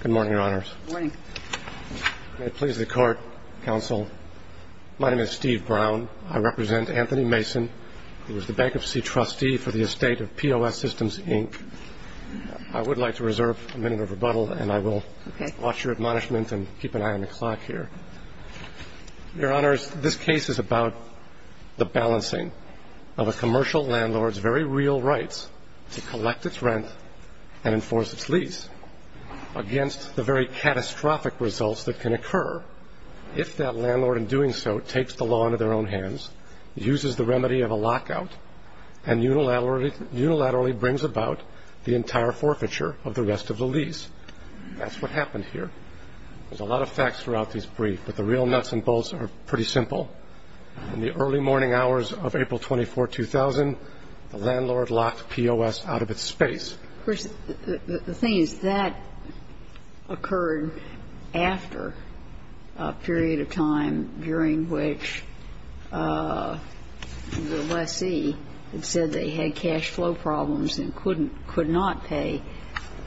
Good morning, Your Honors. May it please the Court, Counsel, my name is Steve Brown. I represent Anthony Mason, who is the Bankruptcy Trustee for the estate of POS Systems, Inc. I would like to reserve a minute of rebuttal, and I will watch your admonishment and keep an eye on the clock here. Your Honors, this case is about the balancing of a commercial landlord's very real rights to collect its rent and enforce its lease against the very catastrophic results that can occur if that landlord, in doing so, takes the law into their own hands, uses the remedy of a lockout, and unilaterally brings about the entire forfeiture of the rest of the lease. That's what happened here. There's a lot of facts throughout this brief, but the real nuts and bolts are pretty simple. In the early morning hours of April 24, 2000, the landlord locked POS out of its space. Of course, the thing is, that occurred after a period of time during which the lessee had said they had cash flow problems and couldn't, could not pay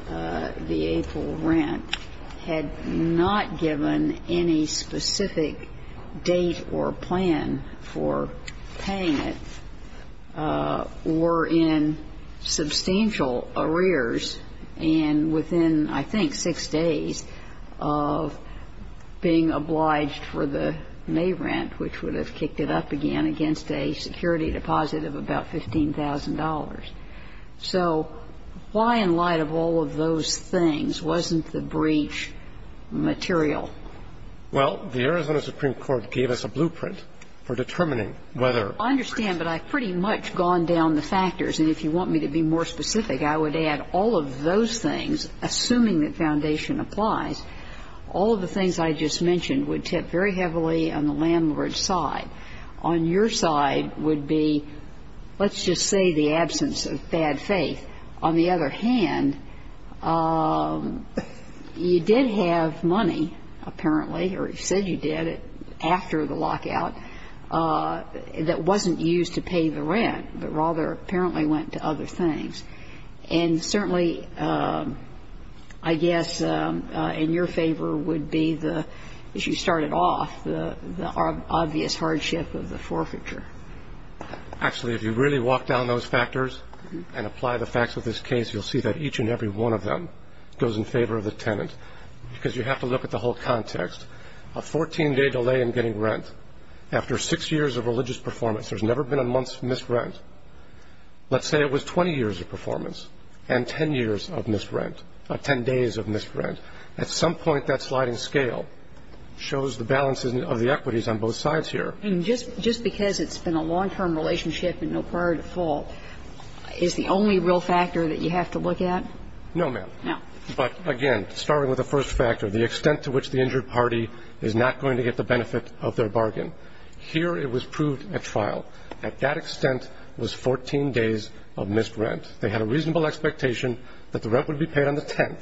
the April rent, had not given any specific date or plan for paying it, were in substantial arrears, and within, I think, six days of being obliged for the May rent, which would have kicked it up again against a security deposit of about $15,000. So why, in light of all of those things, wasn't the breach material? Well, the Arizona Supreme Court gave us a blueprint for determining whether ---- I understand, but I've pretty much gone down the factors. And if you want me to be more specific, I would add, all of those things, assuming that foundation applies, all of the things I just mentioned would tip very heavily on the landlord's side. On your side would be, let's just say, the absence of bad faith. On the other hand, you did have money, apparently, or you said you did, after the lockout, that wasn't used to pay the rent, but rather apparently went to other things. And certainly, I guess, in your favor would be, as you started off, the obvious hardship of the forfeiture. Actually, if you really walk down those factors and apply the facts of this case, you'll see that each and every one of them goes in favor of the tenant, because you have to look at the whole context. A 14-day delay in getting rent after six years of religious performance. There's never been a month's missed rent. Let's say it was 20 years of performance and 10 years of missed rent, 10 days of missed rent. At some point, that sliding scale shows the balances of the equities on both sides here. And just because it's been a long-term relationship and no prior default, is the only real factor that you have to look at? No, ma'am. No. But again, starting with the first factor, the extent to which the injured party is not going to get the benefit of their bargain. Here, it was proved at trial. At that extent, it was 14 days of missed rent. They had a reasonable expectation that the rent would be paid on the 10th.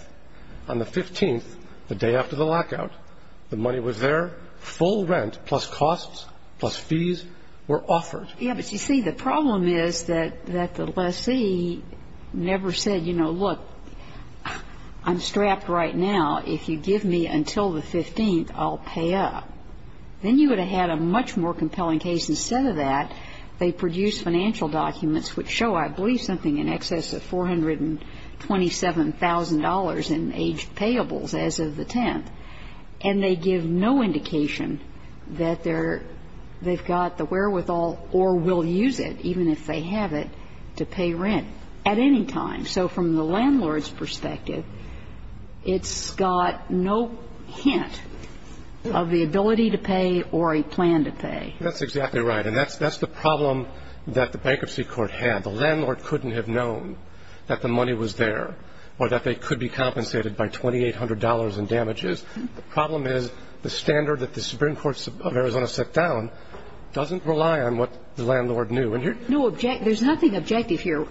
On the 15th, the day after the lockout, the money was there. Full rent, plus costs, plus fees, were offered. Yeah, but you see, the problem is that the lessee never said, you know, look, I'm strapped right now. If you give me until the 15th, I'll pay up. Then you would have had a much more compelling case. Instead of that, they produced financial documents which show, I believe, something in excess of $427,000 in aged payables as of the 10th. And they give no indication that they've got the wherewithal or will use it, even if they have it, to pay rent at any time. So from the landlord's perspective, it's got no hint of the ability to pay or a plan to pay. That's exactly right. And that's the problem that the Bankruptcy Court had. The landlord couldn't have known that the money was there or that they could be compensated by $2,800 in damages. The problem is the standard that the Supreme Court of Arizona set down doesn't rely on what the landlord knew. No, there's nothing objective here.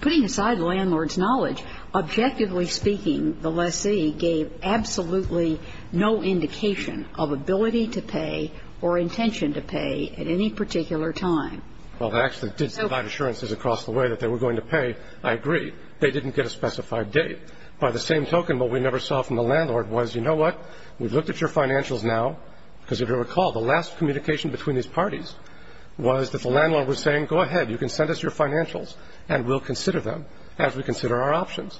Putting aside the landlord's knowledge, objectively speaking, the lessee gave absolutely no indication of ability to pay or intention to pay at any particular time. Well, they actually did provide assurances across the way that they were going to pay. I agree. They didn't get a specified date. By the same token, what we never saw from the landlord was, you know what, we've looked at your financials now, because if you recall, the last communication between these parties was that the landlord was saying, go ahead, you can send us your financials and we'll consider them as we consider our options.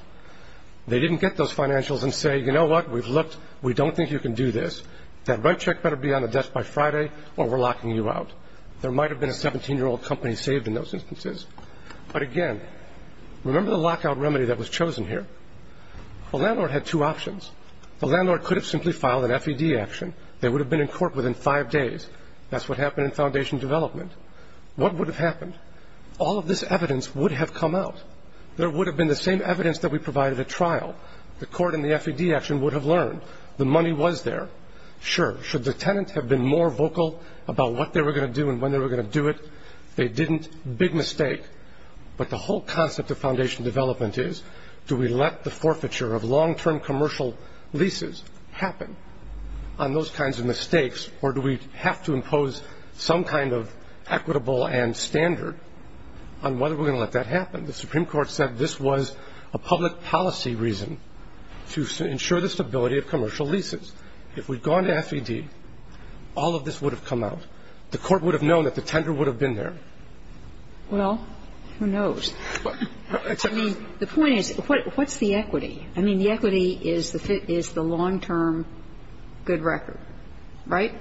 They didn't get those financials and say, you know what, we've looked, we don't think you can do this, that right check better be on the desk by Friday or we're locking you out. There might have been a 17-year-old company saved in those instances. But again, remember the lockout remedy that was chosen here? The landlord had two options. The landlord could have simply filed an FED action. They would have been in court within five days. That's what happened in foundation development. What would have happened? All of this evidence would have come out. There would have been the same evidence that we provided at trial. The court in the FED action would have learned. The money was there. Sure, should the tenant have been more vocal about what they were going to do and when they were going to do it? They didn't. Big mistake. But the whole concept of foundation development is, do we let the forfeiture of long-term commercial leases happen on those kinds of mistakes? Or do we have to impose some kind of equitable and standard on whether we're going to let that happen? The Supreme Court said this was a public policy reason to ensure the stability of commercial leases. If we'd gone to FED, all of this would have come out. The court would have known that the tender would have been there. Well, who knows? I mean, the point is, what's the equity? I mean, the equity is the long-term good record, right?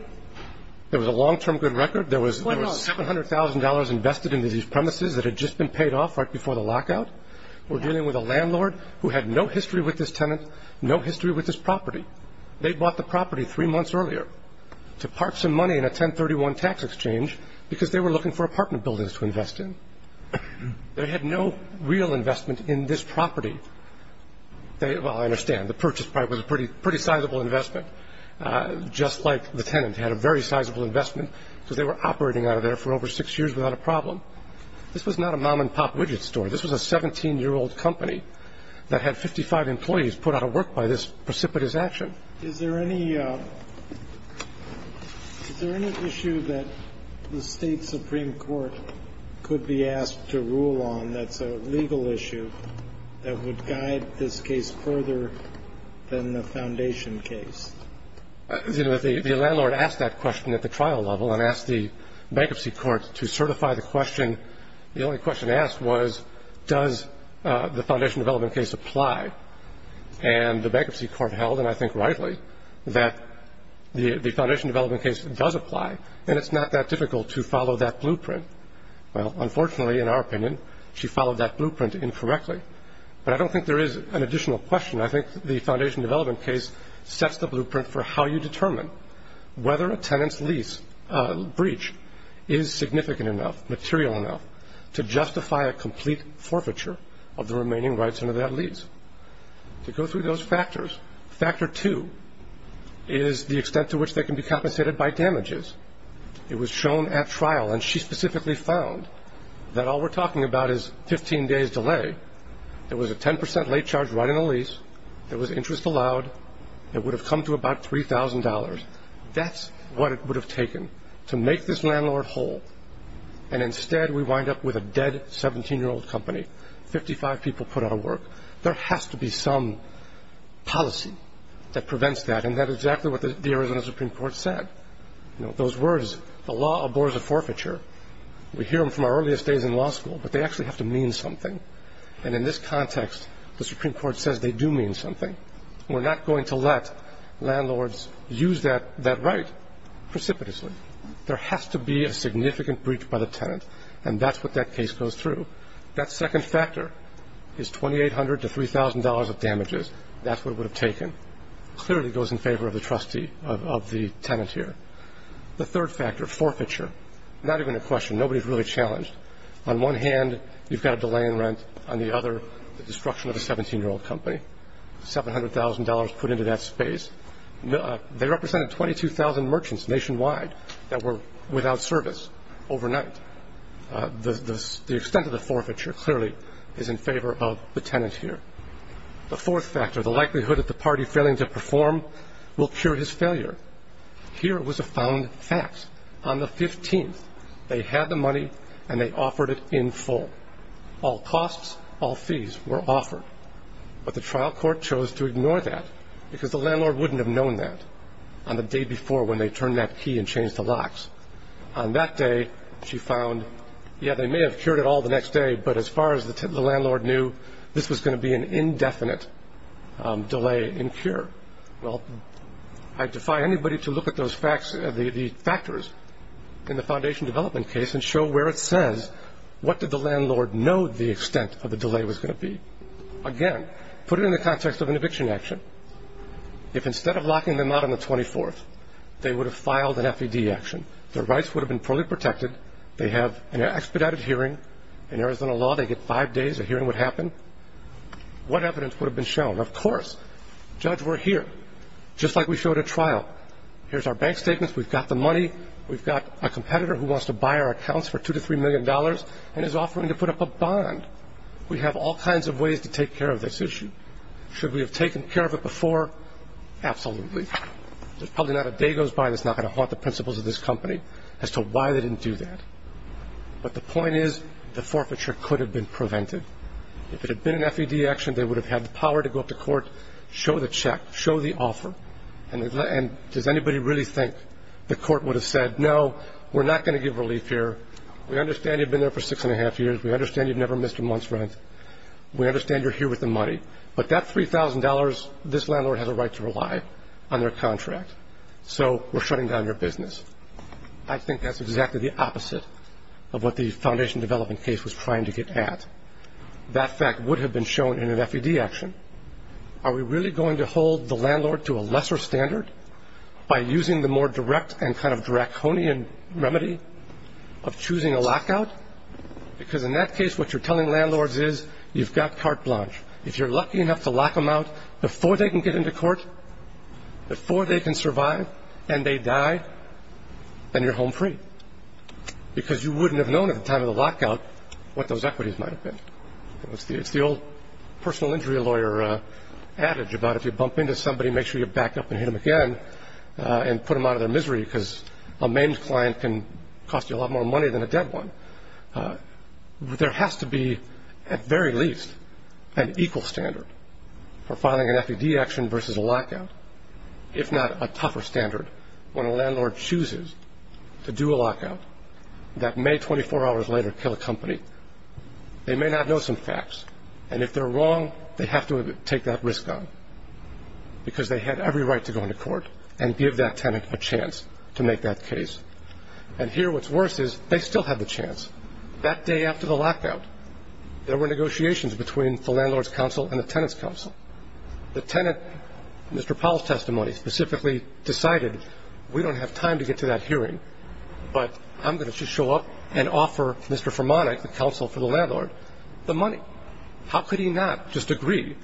There was a long-term good record. There was $700,000 invested into these premises that had just been paid off right before the lockout. We're dealing with a landlord who had no history with this tenant, no history with this property. They bought the property three months earlier to part some money in a 1031 tax exchange because they were looking for apartment buildings to invest in. They had no real investment in this property. Well, I understand. The purchase price was a pretty sizable investment, just like the tenant had a very sizable investment because they were operating out of there for over six years without a problem. This was not a mom-and-pop widget store. This was a 17-year-old company that had 55 employees put out of work by this precipitous action. Is there any, is there any issue that the State Supreme Court could be asked to rule on that's a legal issue that would guide this case further than the foundation case? The landlord asked that question at the trial level and asked the bankruptcy court to certify the question. The only question asked was, does the foundation development case apply? And the bankruptcy court held, and I think rightly, that the foundation development case does apply. And it's not that difficult to follow that blueprint. Well, unfortunately, in our opinion, she followed that blueprint incorrectly. But I don't think there is an additional question. I think the foundation development case sets the blueprint for how you determine whether a tenant's lease, breach, is significant enough, material enough, to justify a complete forfeiture of the remaining rights under that lease, to go through those factors. Factor two is the extent to which they can be compensated by damages. It was shown at trial, and she specifically found that all we're talking about is 15 days delay. There was a 10% late charge right in the lease. There was interest allowed. It would have come to about $3,000. That's what it would have taken to make this landlord whole. And instead, we wind up with a dead 17-year-old company. 55 people put out of work. There has to be some policy that prevents that. And that's exactly what the Arizona Supreme Court said. Those words, the law abhors a forfeiture. We hear them from our earliest days in law school, but they actually have to mean something. And in this context, the Supreme Court says they do mean something. We're not going to let landlords use that right precipitously. There has to be a significant breach by the tenant, and that's what that case goes through. That second factor is $2,800 to $3,000 of damages. That's what it would have taken. Clearly, it goes in favor of the tenant here. The third factor, forfeiture, not even a question. Nobody's really challenged. On one hand, you've got a delay in rent. On the other, the destruction of a 17-year-old company, $700,000 put into that space, they represented 22,000 merchants nationwide that were without service overnight, the extent of the forfeiture clearly is in favor of the tenant here. The fourth factor, the likelihood that the party failing to perform will cure his failure. Here was a found fact. On the 15th, they had the money and they offered it in full. All costs, all fees were offered. But the trial court chose to ignore that because the landlord wouldn't have known that on the day before when they turned that key and changed the locks. On that day, she found, yeah, they may have cured it all the next day, but as far as the landlord knew, this was going to be an indefinite delay in cure. Well, I defy anybody to look at those facts, the factors in the foundation development case and show where it says, what did the landlord know the extent of the delay was going to be? Again, put it in the context of an eviction action. If instead of locking them out on the 24th, they would have filed an FED action, their rights would have been fully protected. They have an expedited hearing. In Arizona law, they get five days of hearing what happened. What evidence would have been shown? Of course, judge, we're here, just like we showed at trial. Here's our bank statements. We've got the money. We've got a competitor who wants to buy our accounts for $2 to $3 million and is offering to put up a bond. We have all kinds of ways to take care of this issue. Should we have taken care of it before? Absolutely. There's probably not a day goes by that's not going to haunt the principles of this act, but the point is, the forfeiture could have been prevented. If it had been an FED action, they would have had the power to go up to court, show the check, show the offer, and does anybody really think the court would have said, no, we're not going to give relief here. We understand you've been there for six and a half years. We understand you've never missed a month's rent. We understand you're here with the money. But that $3,000, this landlord has a right to rely on their contract. So we're shutting down your business. I think that's exactly the opposite of what the foundation development case was trying to get at. That fact would have been shown in an FED action. Are we really going to hold the landlord to a lesser standard by using the more direct and kind of draconian remedy of choosing a lockout? Because in that case, what you're telling landlords is, you've got carte blanche. If you're lucky enough to lock them out before they can get into court, before they can survive and they die, then you're home free. Because you wouldn't have known at the time of the lockout what those equities might have been. It's the old personal injury lawyer adage about if you bump into somebody, make sure you back up and hit them again and put them out of their misery because a maimed client can cost you a lot more money than a dead one. There has to be, at very least, an equal standard for filing an FED action versus a lockout, if not a tougher standard. When a landlord chooses to do a lockout, that may 24 hours later kill a company, they may not know some facts. And if they're wrong, they have to take that risk on because they had every right to go into court and give that tenant a chance to make that case. And here, what's worse is, they still had the chance. That day after the lockout, there were negotiations between the landlord's counsel and the tenant's counsel. The tenant, Mr. Powell's testimony, specifically decided, we don't have time to get to that hearing, but I'm going to just show up and offer Mr. Fromanek, the counsel for the landlord, the money. How could he not just agree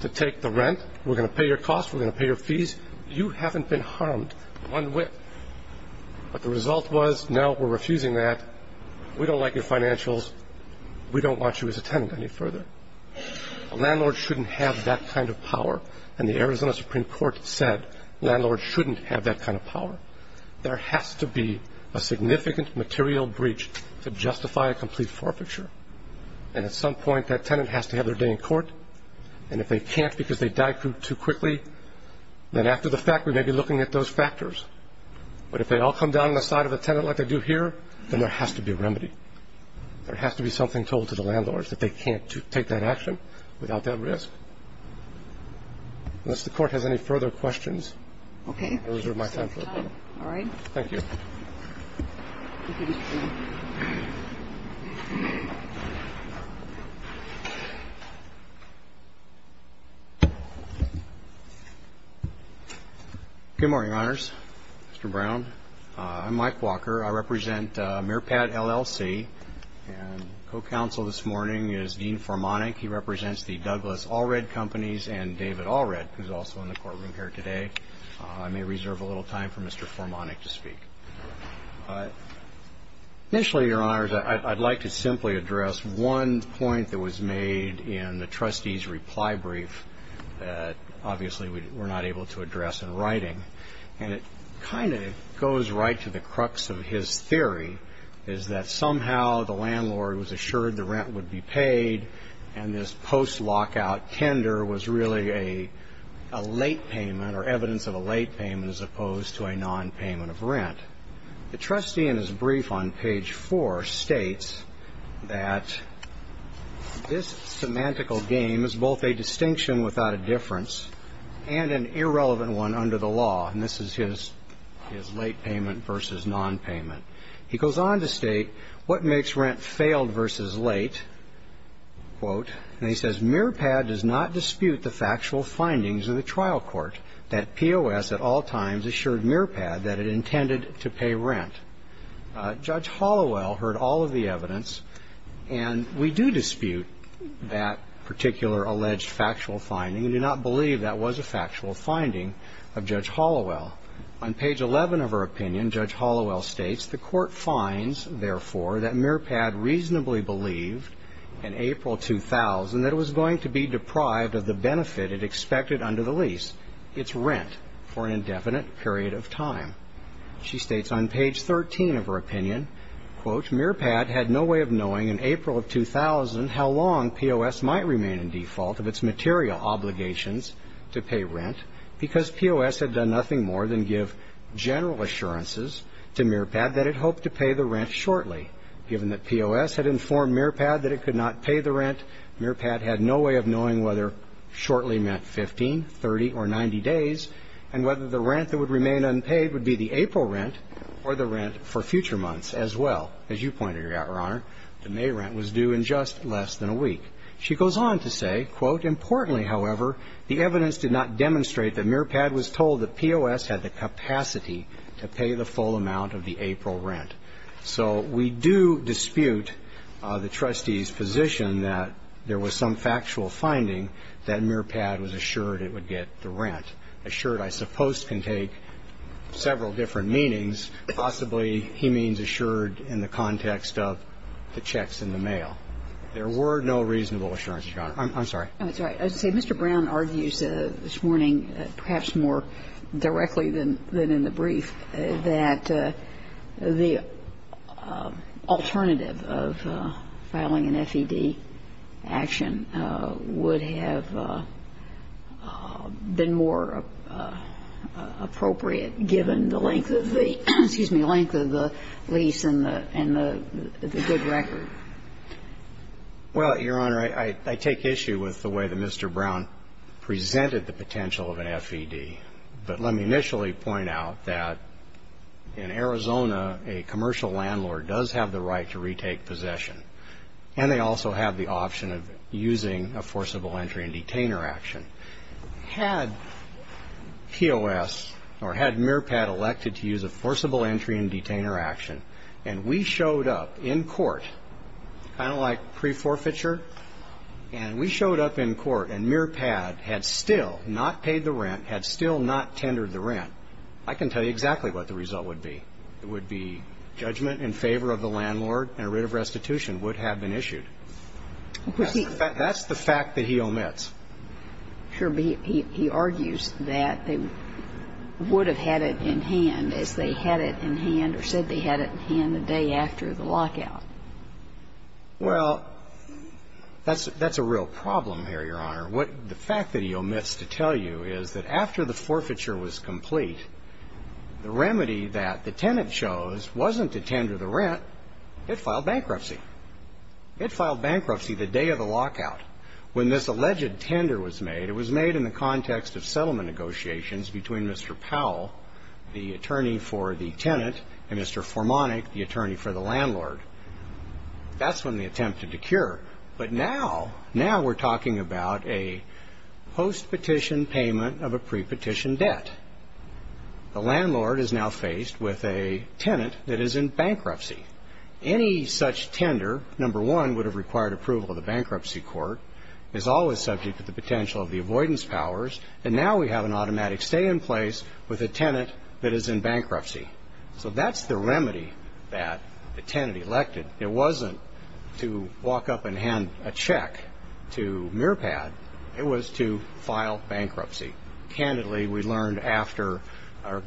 to take the rent? We're going to pay your costs. We're going to pay your fees. You haven't been harmed one whit. But the result was, no, we're refusing that. We don't like your financials. We don't want you as a tenant any further. A landlord shouldn't have that kind of power. And the Arizona Supreme Court said, landlords shouldn't have that kind of power. There has to be a significant material breach to justify a complete forfeiture. And at some point, that tenant has to have their day in court. And if they can't because they died too quickly, then after the fact, we may be looking at those factors. But if they all come down on the side of the tenant like they do here, then there has to be a remedy. There has to be something told to the landlords that they can't take that action without that risk. Unless the court has any further questions, I reserve my time for the panel. All right. Thank you. Good morning, honors. Mr. Brown, I'm Mike Walker. I represent MeerPat LLC. And co-counsel this morning is Dean Formanek. He represents the Douglas Allred Companies and David Allred, who's also in the courtroom here today. I may reserve a little time for Mr. Formanek to speak. Initially, your honors, I'd like to simply address one point that was made in the trustee's reply brief that obviously we were not able to address in writing. And it kind of goes right to the crux of his theory, is that somehow the landlord was assured the rent would be paid. And this post-lockout tender was really a late payment or evidence of a late payment as opposed to a non-payment of rent. The trustee in his brief on page four states that this semantical game is both a distinction without a difference and an irrelevant one under the law. And this is his late payment versus non-payment. He goes on to state, what makes rent failed versus late? Quote, and he says, MeerPat does not dispute the factual findings of the trial court that POS at all times assured MeerPat that it intended to pay rent. Judge Hallowell heard all of the evidence. And we do dispute that particular alleged factual finding and do not believe that was a factual finding of Judge Hallowell. On page 11 of her opinion, Judge Hallowell states, the court finds, therefore, that MeerPat reasonably believed in April 2000 that it was going to be deprived of the benefit it expected under the lease, its rent, for an indefinite period of time. She states on page 13 of her opinion, quote, MeerPat had no way of knowing in April of 2000 how long POS might remain in default of its material obligations to pay rent because POS had done nothing more than give general assurances to MeerPat that it hoped to pay the rent shortly. Given that POS had informed MeerPat that it could not pay the rent, MeerPat had no way of knowing whether shortly meant 15, 30, or 90 days, and whether the rent that would remain unpaid would be the April rent or the rent for future months as well. As you pointed out, Your Honor, the May rent was due in just less than a week. She goes on to say, quote, importantly, however, the evidence did not demonstrate that MeerPat was told that POS had the capacity to pay the full amount of the April rent. So we do dispute the trustee's position that there was some factual finding that MeerPat was assured it would get the rent. Assured, I suppose, can take several different meanings. Possibly, he means assured in the context of the checks in the mail. There were no reasonable assurances, Your Honor. I'm sorry. That's all right. Mr. Brown argues this morning, perhaps more directly than in the brief, that the alternative of filing an FED action would have been more appropriate given the length of the lease and the good record. Well, Your Honor, I take issue with the way that Mr. Brown presented the potential of an FED. But let me initially point out that in Arizona, a commercial landlord does have the right to retake possession. And they also have the option of using a forcible entry and detainer action. Had POS, or had MeerPat elected to use a forcible entry and detainer action, and we showed up in court, kind of like pre-forfeiture, and we showed up in court, and MeerPat had still not paid the rent, had still not tendered the rent, I can tell you exactly what the result would be. It would be judgment in favor of the landlord, and a writ of restitution would have been issued. That's the fact that he omits. Sure, but he argues that they would have had it in hand as they had it in hand, or said they had it in hand the day after the lockout. Well, that's a real problem here, Your Honor. The fact that he omits to tell you is that after the forfeiture was complete, the remedy that the tenant chose wasn't to tender the rent. It filed bankruptcy. It filed bankruptcy the day of the lockout. When this alleged tender was made, it was made in the context of settlement negotiations between Mr. Powell, the attorney for the tenant, and Mr. Formonic, the attorney for the landlord. That's when they attempted to cure. But now, now we're talking about a post-petition payment of a pre-petition debt. The landlord is now faced with a tenant that is in bankruptcy. Any such tender, number one, would have required approval of the bankruptcy court, is always subject to the potential of the avoidance powers. And now we have an automatic stay in place with a tenant that is in bankruptcy. So that's the remedy that the tenant elected. It wasn't to walk up and hand a check to Mearpad. It was to file bankruptcy. Candidly, we learned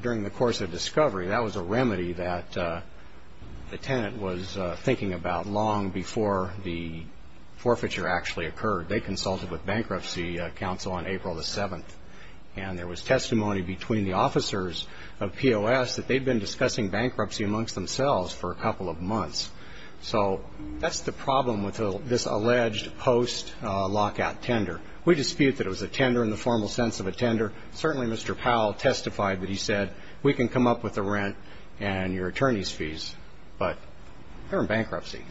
during the course of discovery that was a remedy that the tenant was thinking about long before the forfeiture actually occurred. They consulted with Bankruptcy Council on April the 7th. And there was testimony between the officers of POS that they'd been discussing bankruptcy amongst themselves for a couple of months. So that's the problem with this alleged post-lockout tender. We dispute that it was a tender in the formal sense of a tender. Certainly, Mr. Powell testified that he and your attorneys' fees, but they're in bankruptcy.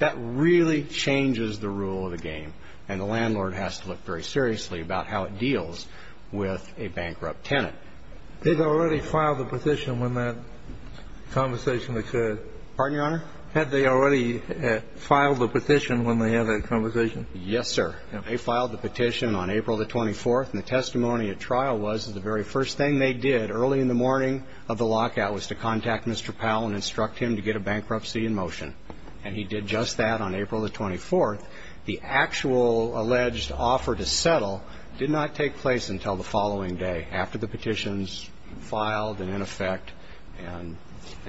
That really changes the rule of the game. And the landlord has to look very seriously about how it deals with a bankrupt tenant. They'd already filed the petition when that conversation occurred. Pardon, Your Honor? Had they already filed the petition when they had that conversation? Yes, sir. They filed the petition on April the 24th. And the testimony at trial was that the very first thing they did early in the morning of the lockout was to contact Mr. Powell and instruct him to get a bankruptcy in motion. And he did just that on April the 24th. The actual alleged offer to settle did not take place until the following day after the petitions filed and in effect. And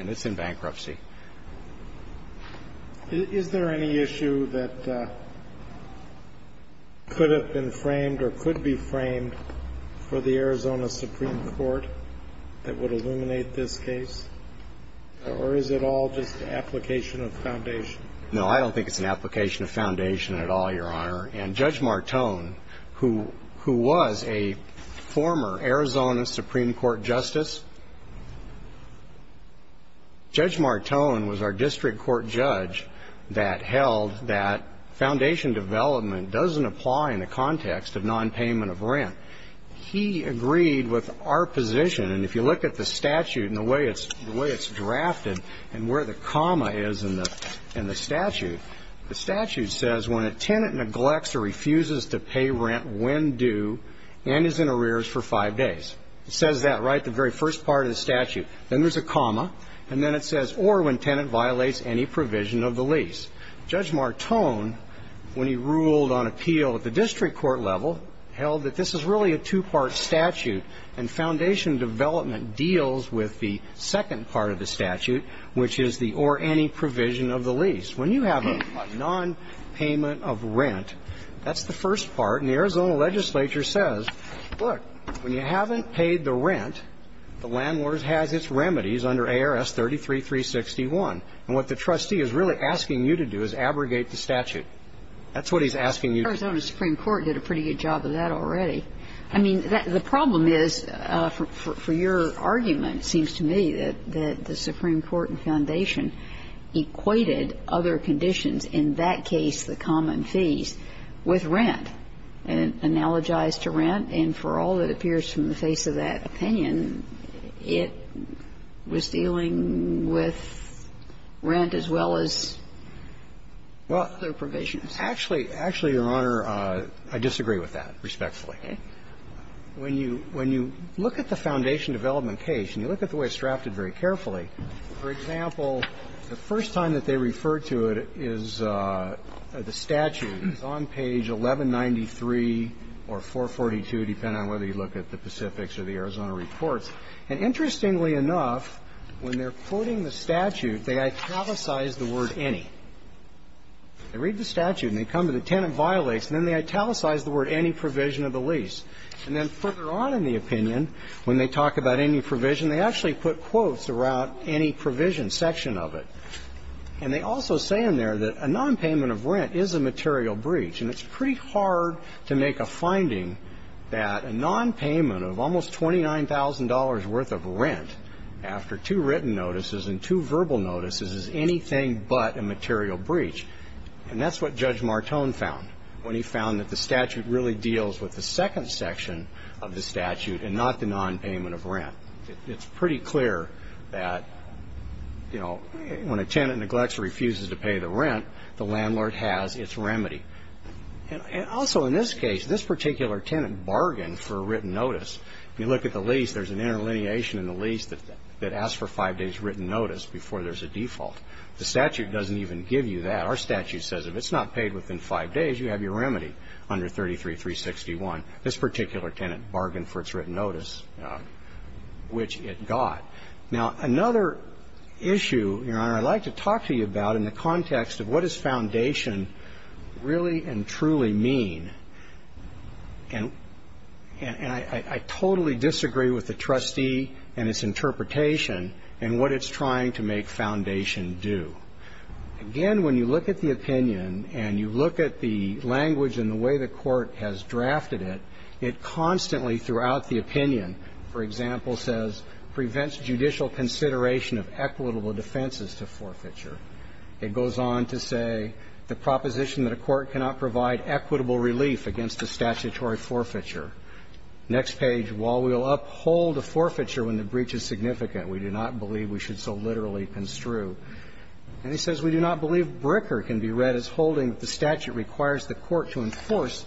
it's in bankruptcy. Is there any issue that could have been framed or could be framed for the Arizona Supreme Court that would illuminate this case? Or is it all just an application of foundation? No, I don't think it's an application of foundation at all, Your Honor. And Judge Martone, who was a former Arizona Supreme Court justice, Judge Martone was our district court judge that held that foundation development doesn't apply in the context of non-payment of rent. He agreed with our position. And if you look at the statute and the way it's drafted and where the comma is in the statute, the statute says when a tenant neglects or refuses to pay rent when due and is in arrears for five days. It says that right the very first part of the statute. Then there's a comma. And then it says, or when tenant violates any provision of the lease. Judge Martone, when he ruled on appeal at the district court level, held that this is really a two-part statute. And foundation development deals with the second part of the statute, which is the or any provision of the lease. When you have a non-payment of rent, that's the first part. And the Arizona legislature says, look, when you haven't paid the rent, the landlord has its remedies under ARS 33361. And what the trustee is really asking you to do is abrogate the statute. That's what he's asking you to do. Arizona Supreme Court did a pretty good job of that already. I mean, the problem is, for your argument, it seems to me that the Supreme Court and foundation equated other conditions, in that case, the common fees, with rent, analogized to rent. And for all that appears from the face of that opinion, it was dealing with rent as well as other provisions. Actually, actually, Your Honor, I disagree with that, respectfully. When you look at the foundation development case, and you look at the way it's drafted very carefully, for example, the first time that they refer to it is the statute is on page 1193 or 442, depending on whether you look at the Pacifics or the Arizona reports. And interestingly enough, when they're quoting the statute, they italicize the word any. They read the statute, and they come to the tenant violates, and then they italicize the word any provision of the lease. And then further on in the opinion, when they talk about any provision, they actually put quotes around any provision section of it. And they also say in there that a nonpayment of rent is a material breach. And it's pretty hard to make a finding that a nonpayment of almost $29,000 worth of rent after two written notices and two verbal notices is anything but a material breach. And that's what Judge Martone found when he found that the statute really deals with the second section of the statute and not the nonpayment of rent. It's pretty clear that when a tenant neglects or refuses to pay the rent, the landlord has its remedy. And also in this case, this particular tenant bargained for a written notice. If you look at the lease, there's an interlineation in the lease that asks for five days written notice before there's a default. The statute doesn't even give you that. Our statute says if it's not paid within five days, you have your remedy under 33-361. This particular tenant bargained for its written notice, which it got. Now another issue, Your Honor, I'd like to talk to you about in the context of what this foundation really and truly mean. And I totally disagree with the trustee and its interpretation and what it's trying to make foundation do. Again, when you look at the opinion and you look at the language and the way the court has drafted it, it constantly throughout the opinion, for example, says prevents judicial consideration of equitable defenses to forfeiture. It goes on to say the proposition that a court cannot provide equitable relief against a statutory forfeiture. Next page, while we will uphold a forfeiture when the breach is significant, we do not believe we should so literally construe. And it says we do not believe Bricker can be read as holding that the statute requires the court to enforce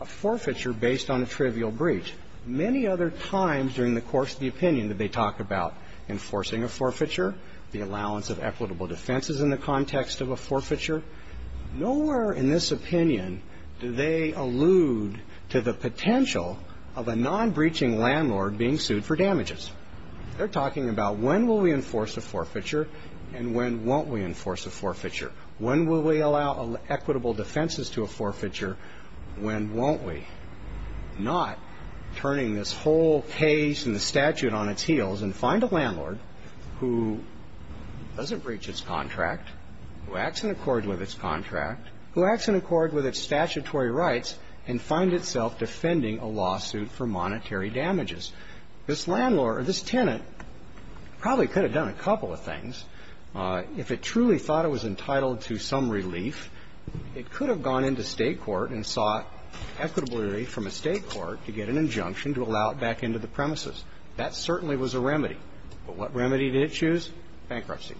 a forfeiture based on a trivial breach. Many other times during the course of the opinion did they talk about enforcing a forfeiture, the allowance of equitable defenses in the context of a forfeiture. Nowhere in this opinion do they allude to the potential of a non-breaching landlord being sued for damages. They're talking about when will we enforce a forfeiture and when won't we enforce a forfeiture. When will we allow equitable defenses to a forfeiture? When won't we? Not turning this whole case and the statute on its heels and find a landlord who doesn't breach its contract, who acts in accord with its contract, who acts in accord with its statutory rights and find itself defending a lawsuit for monetary damages. This landlord or this tenant probably could have done a couple of things. If it truly thought it was entitled to some relief, it could have gone into state court and sought equitable relief from a state court to get an injunction to allow it back into the premises. That certainly was a remedy. But what remedy did it choose? Bankruptcy.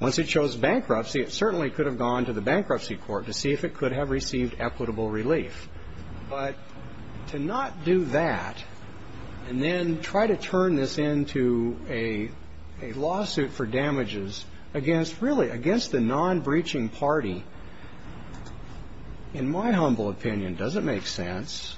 Once it chose bankruptcy, it certainly could have gone to the bankruptcy court to see if it could have received equitable relief. But to not do that and then try to turn this into a lawsuit for damages against the non-breaching party, in my humble opinion, doesn't make sense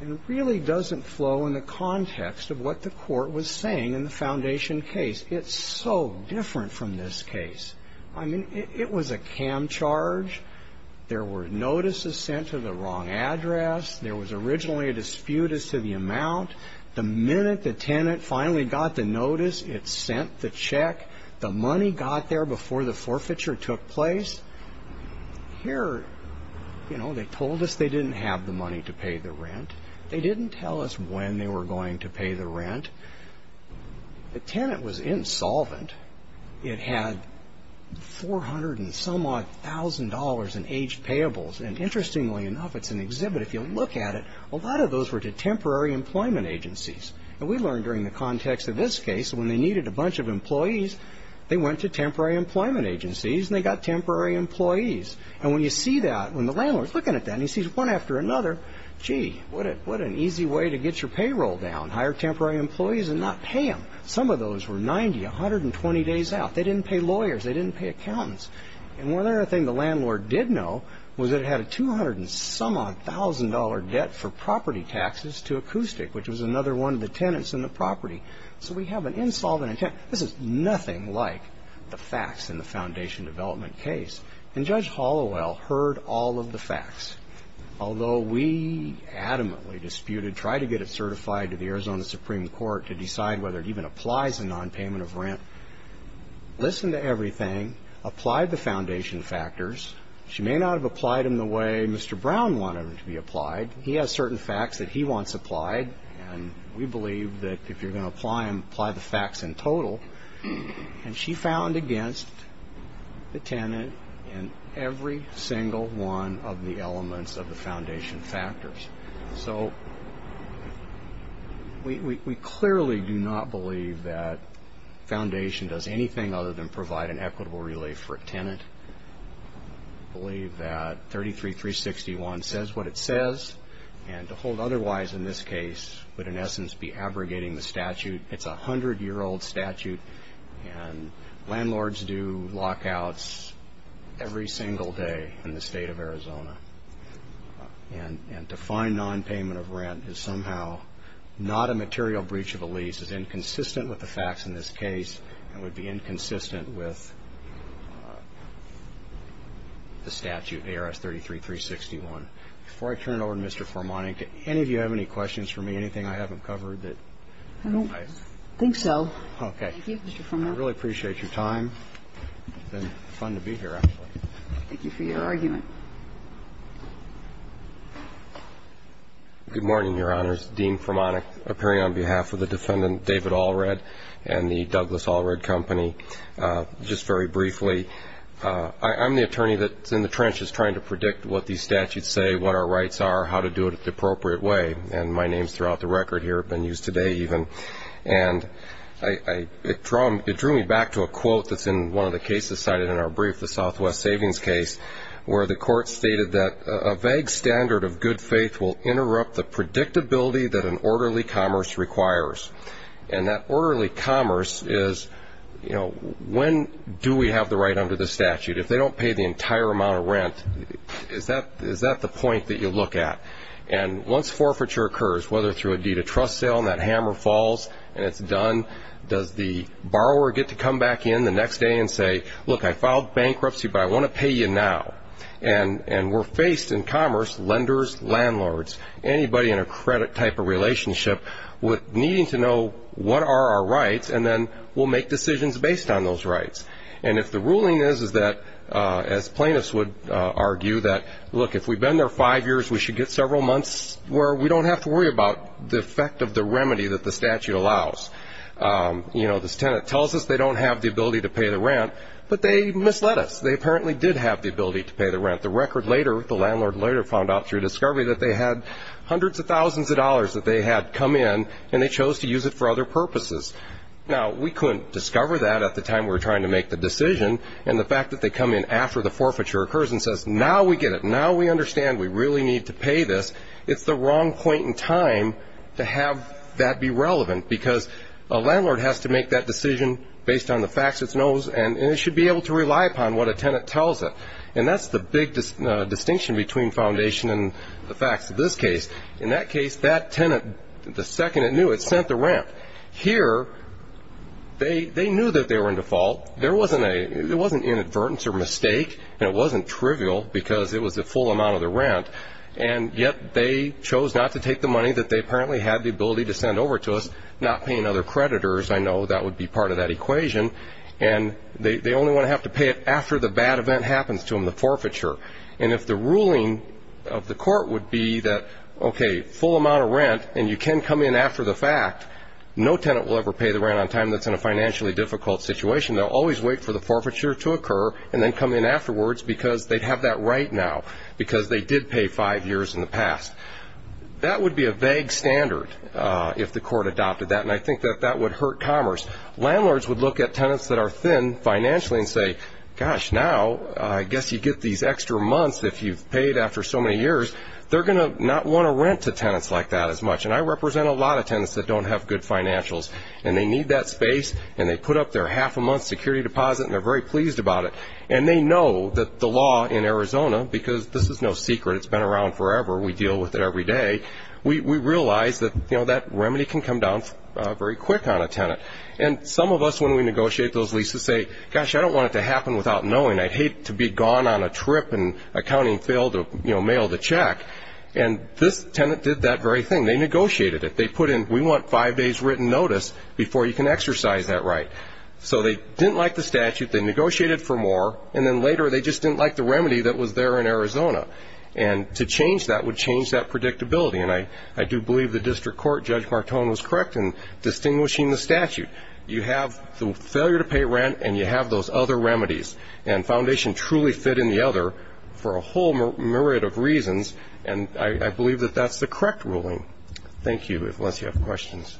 and really doesn't flow in the context of what the court was saying in the foundation case. It's so different from this case. I mean, it was a cam charge. There were notices sent to the wrong address. There was originally a dispute as to the amount. The minute the tenant finally got the notice, it sent the check. The money got there before the forfeiture took place. Here, they told us they didn't have the money to pay the rent. They didn't tell us when they were going to pay the rent. The tenant was insolvent. It had $400 and some odd thousand in aged payables. And interestingly enough, it's an exhibit. If you look at it, a lot of those were to temporary employment agencies. And we learned during the context of this case, when they needed a bunch of employees, they went to temporary employment agencies and they got temporary employees. And when you see that, when the landlord's looking at that, and he sees one after another, gee, what an easy way to get your payroll down. Hire temporary employees and not pay them. Some of those were 90, 120 days out. They didn't pay lawyers. They didn't pay accountants. And one other thing the landlord did know was that it had a $200 and some odd thousand debt for property taxes to Acoustic, which was another one of the tenants in the property. So we have an insolvent intent. This is nothing like the facts in the Foundation Development case. And Judge Hollowell heard all of the facts. Although we adamantly disputed, tried to get it certified to the Arizona Supreme Court to decide whether it even applies a non-payment of rent, listened to everything, applied the Foundation factors. She may not have applied them the way Mr. Brown wanted them to be applied. He has certain facts that he wants applied. And we believe that if you're going to apply them, apply the facts in total. And she found against the tenant in every single one of the elements of the Foundation factors. So we clearly do not believe that Foundation does anything other than provide an equitable relay for a tenant. We believe that 33-361 says what it says. And to hold otherwise in this case would, in essence, be abrogating the statute. It's a 100-year-old statute. And landlords do lockouts every single day in the state of Arizona. And to find non-payment of rent is somehow not a material breach of a lease, is inconsistent with the facts in this case, and would be inconsistent with the statute, ARS 33-361. Before I turn it over to Mr. Formanek, any of you have any questions for me, anything I haven't covered that I don't like? I don't think so. OK. Thank you, Mr. Formanek. I really appreciate your time. It's been fun to be here, actually. Thank you for your argument. Good morning, Your Honors. Dean Formanek, appearing on behalf of the defendant, David Allred, and the Douglas Allred Company. Just very briefly, I'm the attorney that's in the trenches trying to predict what these statutes say, what our rights are, how to do it the appropriate way. And my name's throughout the record here. I've been used today, even. And it drew me back to a quote that's in one of the cases cited in our brief, the Southwest Savings case, where the court stated that a vague standard of good faith will interrupt the predictability that an orderly commerce requires. And that orderly commerce is, when do we have the right under the statute? If they don't pay the entire amount of rent, is that the point that you look at? And once forfeiture occurs, whether through a deed of trust sale and that hammer falls and it's done, does the borrower get to come back in the next day and say, look, I filed bankruptcy, but I want to pay you now? And we're faced in commerce, lenders, landlords, anybody in a credit type of relationship with needing to know what are our rights, and then we'll make decisions based on those rights. And if the ruling is that, as plaintiffs would argue, that, look, if we've been there five years, we should get several months where we don't have to worry about the effect of the remedy that the statute allows. This tenant tells us they don't have the ability to pay the rent, but they misled us. They apparently did have the ability to pay the rent. The record later, the landlord later found out through discovery that they had hundreds of thousands of dollars that they had come in, and they chose to use it for other purposes. Now, we couldn't discover that at the time we were trying to make the decision. And the fact that they come in after the forfeiture occurs and says, now we get it. Now we understand we really need to pay this. It's the wrong point in time to have that be relevant, because a landlord has to make that decision based on the facts it knows, and it should be able to rely upon what a tenant tells it. And that's the big distinction between foundation and the facts of this case. In that case, that tenant, the second it knew, it sent the rent. Here, they knew that they were in default. There wasn't an inadvertence or mistake, and it wasn't trivial, because it was the full amount of the rent. And yet, they chose not to take the money that they apparently had the ability to send over to us, not paying other creditors. I know that would be part of that equation. And they only want to have to pay it after the bad event happens to them, the forfeiture. And if the ruling of the court would be that, OK, full amount of rent, and you can come in after the fact, no tenant will ever pay the rent on time that's in a financially difficult situation. They'll always wait for the forfeiture to occur, and then come in afterwards, because they'd have that right now, because they did pay five years in the past. That would be a vague standard if the court adopted that. And I think that that would hurt commerce. Landlords would look at tenants that are thin financially and say, gosh, now, I guess you get these extra months if you've paid after so many years. They're going to not want to rent to tenants like that as much. And I represent a lot of tenants that don't have good financials. And they need that space, and they put up their half a month's security deposit, and they're very pleased about it. And they know that the law in Arizona, because this is no secret, it's been around forever, we deal with it every day, we realize that that remedy can come down very quick on a tenant. And some of us, when we negotiate those leases, say, gosh, I don't want it to happen without knowing. I'd hate to be gone on a trip, and accounting failed to mail the check. And this tenant did that very thing. They negotiated it. They put in, we want five days written notice before you can exercise that right. So they didn't like the statute. They negotiated for more. And then later, they just didn't like the remedy that was there in Arizona. And to change that would change that predictability. And I do believe the district court, Judge Martone, was correct in distinguishing the statute. You have the failure to pay rent, and you have those other remedies. And Foundation truly fit in the other for a whole myriad of reasons. And I believe that that's the correct ruling. Thank you, unless you have questions.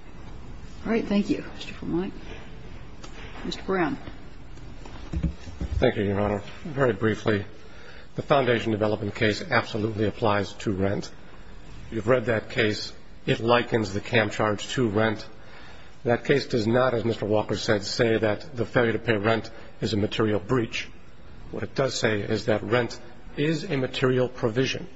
All right, thank you, Mr. Vermont. Mr. Brown. Thank you, Your Honor. Very briefly, the Foundation development case absolutely applies to rent. You've read that case. It likens the cam charge to rent. That case does not, as Mr. Walker said, say that the failure to pay rent is a material breach. What it does say is that rent is a material provision,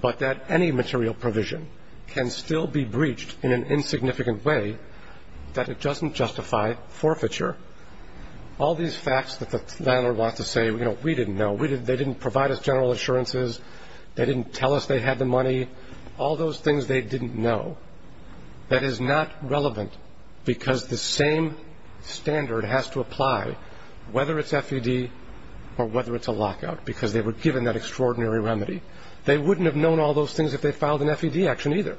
but that any material provision can still be breached in an insignificant way that it doesn't justify forfeiture. All these facts that the landlord wants to say, we didn't know. They didn't provide us general assurances. They didn't tell us they had the money. All those things they didn't know. That is not relevant, because the same standard has to apply, whether it's FED or whether it's a lockout, because they were given that extraordinary remedy. They wouldn't have known all those things if they filed an FED action either.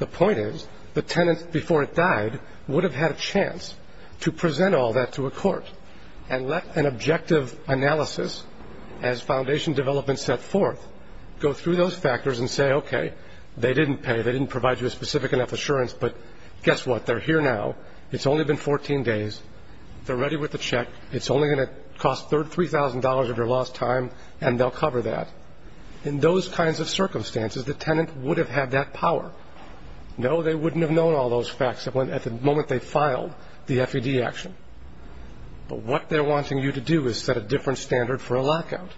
The point is, the tenant before it died would have had a chance to present all that to a court and let an objective analysis, as Foundation development set forth, go through those factors and say, OK, they didn't pay. They didn't provide you a specific enough assurance, but guess what? They're here now. It's only been 14 days. They're ready with the check. It's only going to cost $3,000 of your lost time, and they'll cover that. In those kinds of circumstances, the tenant would have had that power. No, they wouldn't have known all those facts at the moment they filed the FED action. But what they're wanting you to do is set a different standard for a lockout.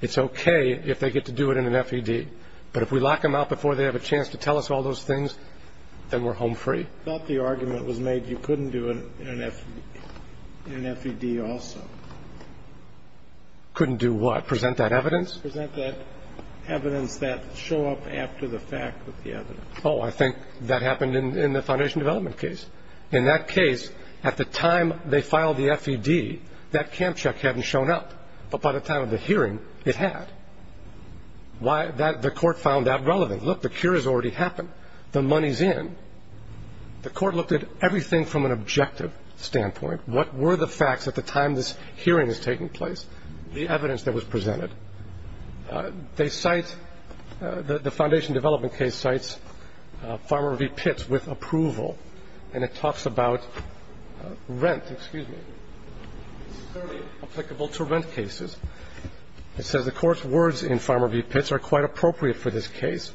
It's OK if they get to do it in an FED, but if we lock them out before they have a chance to tell us all those things, then we're home free. I thought the argument was made you couldn't do it in an FED also. Couldn't do what? Present that evidence? Present that evidence that show up after the fact with the evidence. Oh, I think that happened in the foundation development case. In that case, at the time they filed the FED, that camp check hadn't shown up. But by the time of the hearing, it had. The court found that relevant. Look, the cure has already happened. The money's in. The court looked at everything from an objective standpoint. What were the facts at the time this hearing is taking place? The evidence that was presented. They cite, the foundation development case cites Farmer v. Pitts with approval. And it talks about rent, excuse me, applicable to rent cases. It says the court's words in Farmer v. Pitts are quite appropriate for this case.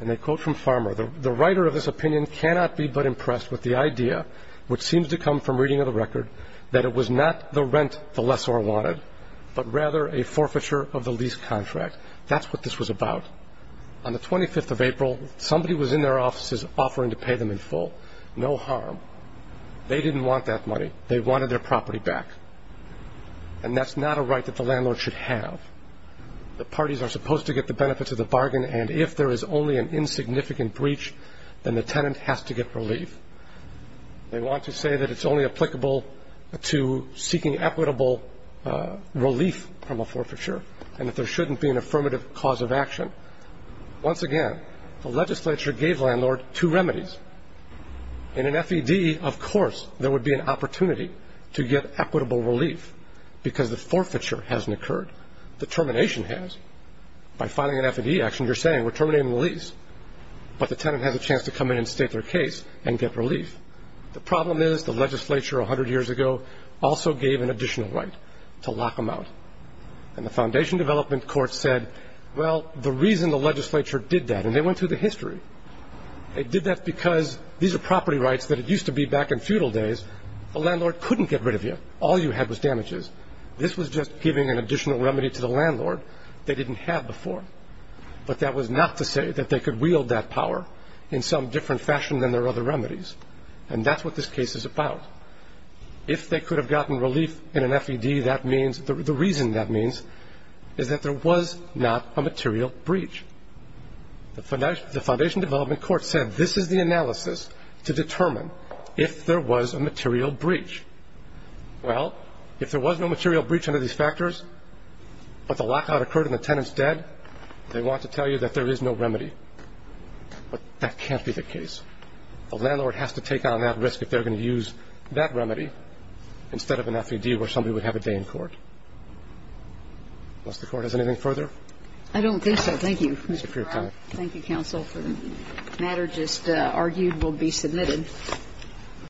And they quote from Farmer, the writer of this opinion cannot be but impressed with the idea, which seems to come from reading of the record, that it was not the rent the lessor wanted, but rather a forfeiture of the lease contract. That's what this was about. On the 25th of April, somebody was in their offices offering to pay them in full. No harm. They didn't want that money. They wanted their property back. And that's not a right that the landlord should have. The parties are supposed to get the benefits of the bargain. And if there is only an insignificant breach, then the tenant has to get relief. They want to say that it's only applicable to seeking equitable relief from a forfeiture, and that there shouldn't be an affirmative cause of action. Once again, the legislature gave landlord two remedies. In an FED, of course, there would be an opportunity to get equitable relief, because the forfeiture hasn't occurred. The termination has. By filing an FED action, you're saying we're terminating the lease, but the tenant has a chance to come in and state their case and get relief. The problem is the legislature 100 years ago also gave an additional right to lock them out. And the Foundation Development Court said, well, the reason the legislature did that, and they went through the history, they did that because these are property rights that it used to be back in feudal days, the landlord couldn't get rid of you. All you had was damages. This was just giving an additional remedy to the landlord they didn't have before. But that was not to say that they could wield that power in some different fashion than their other remedies. And that's what this case is about. If they could have gotten relief in an FED, that means, the reason that means, is that there was not a material breach. The Foundation Development Court said, this is the analysis to determine if there was a material breach. Well, if there was no material breach under these factors, but the lockout occurred and the tenant's dead, they want to tell you that there is no remedy. But that can't be the case. The landlord has to take on that risk if they're going to use that remedy instead of an FED where somebody would have a day in court. Does the court have anything further? I don't think so, thank you. Thank you, counsel, for the matter just argued will be submitted.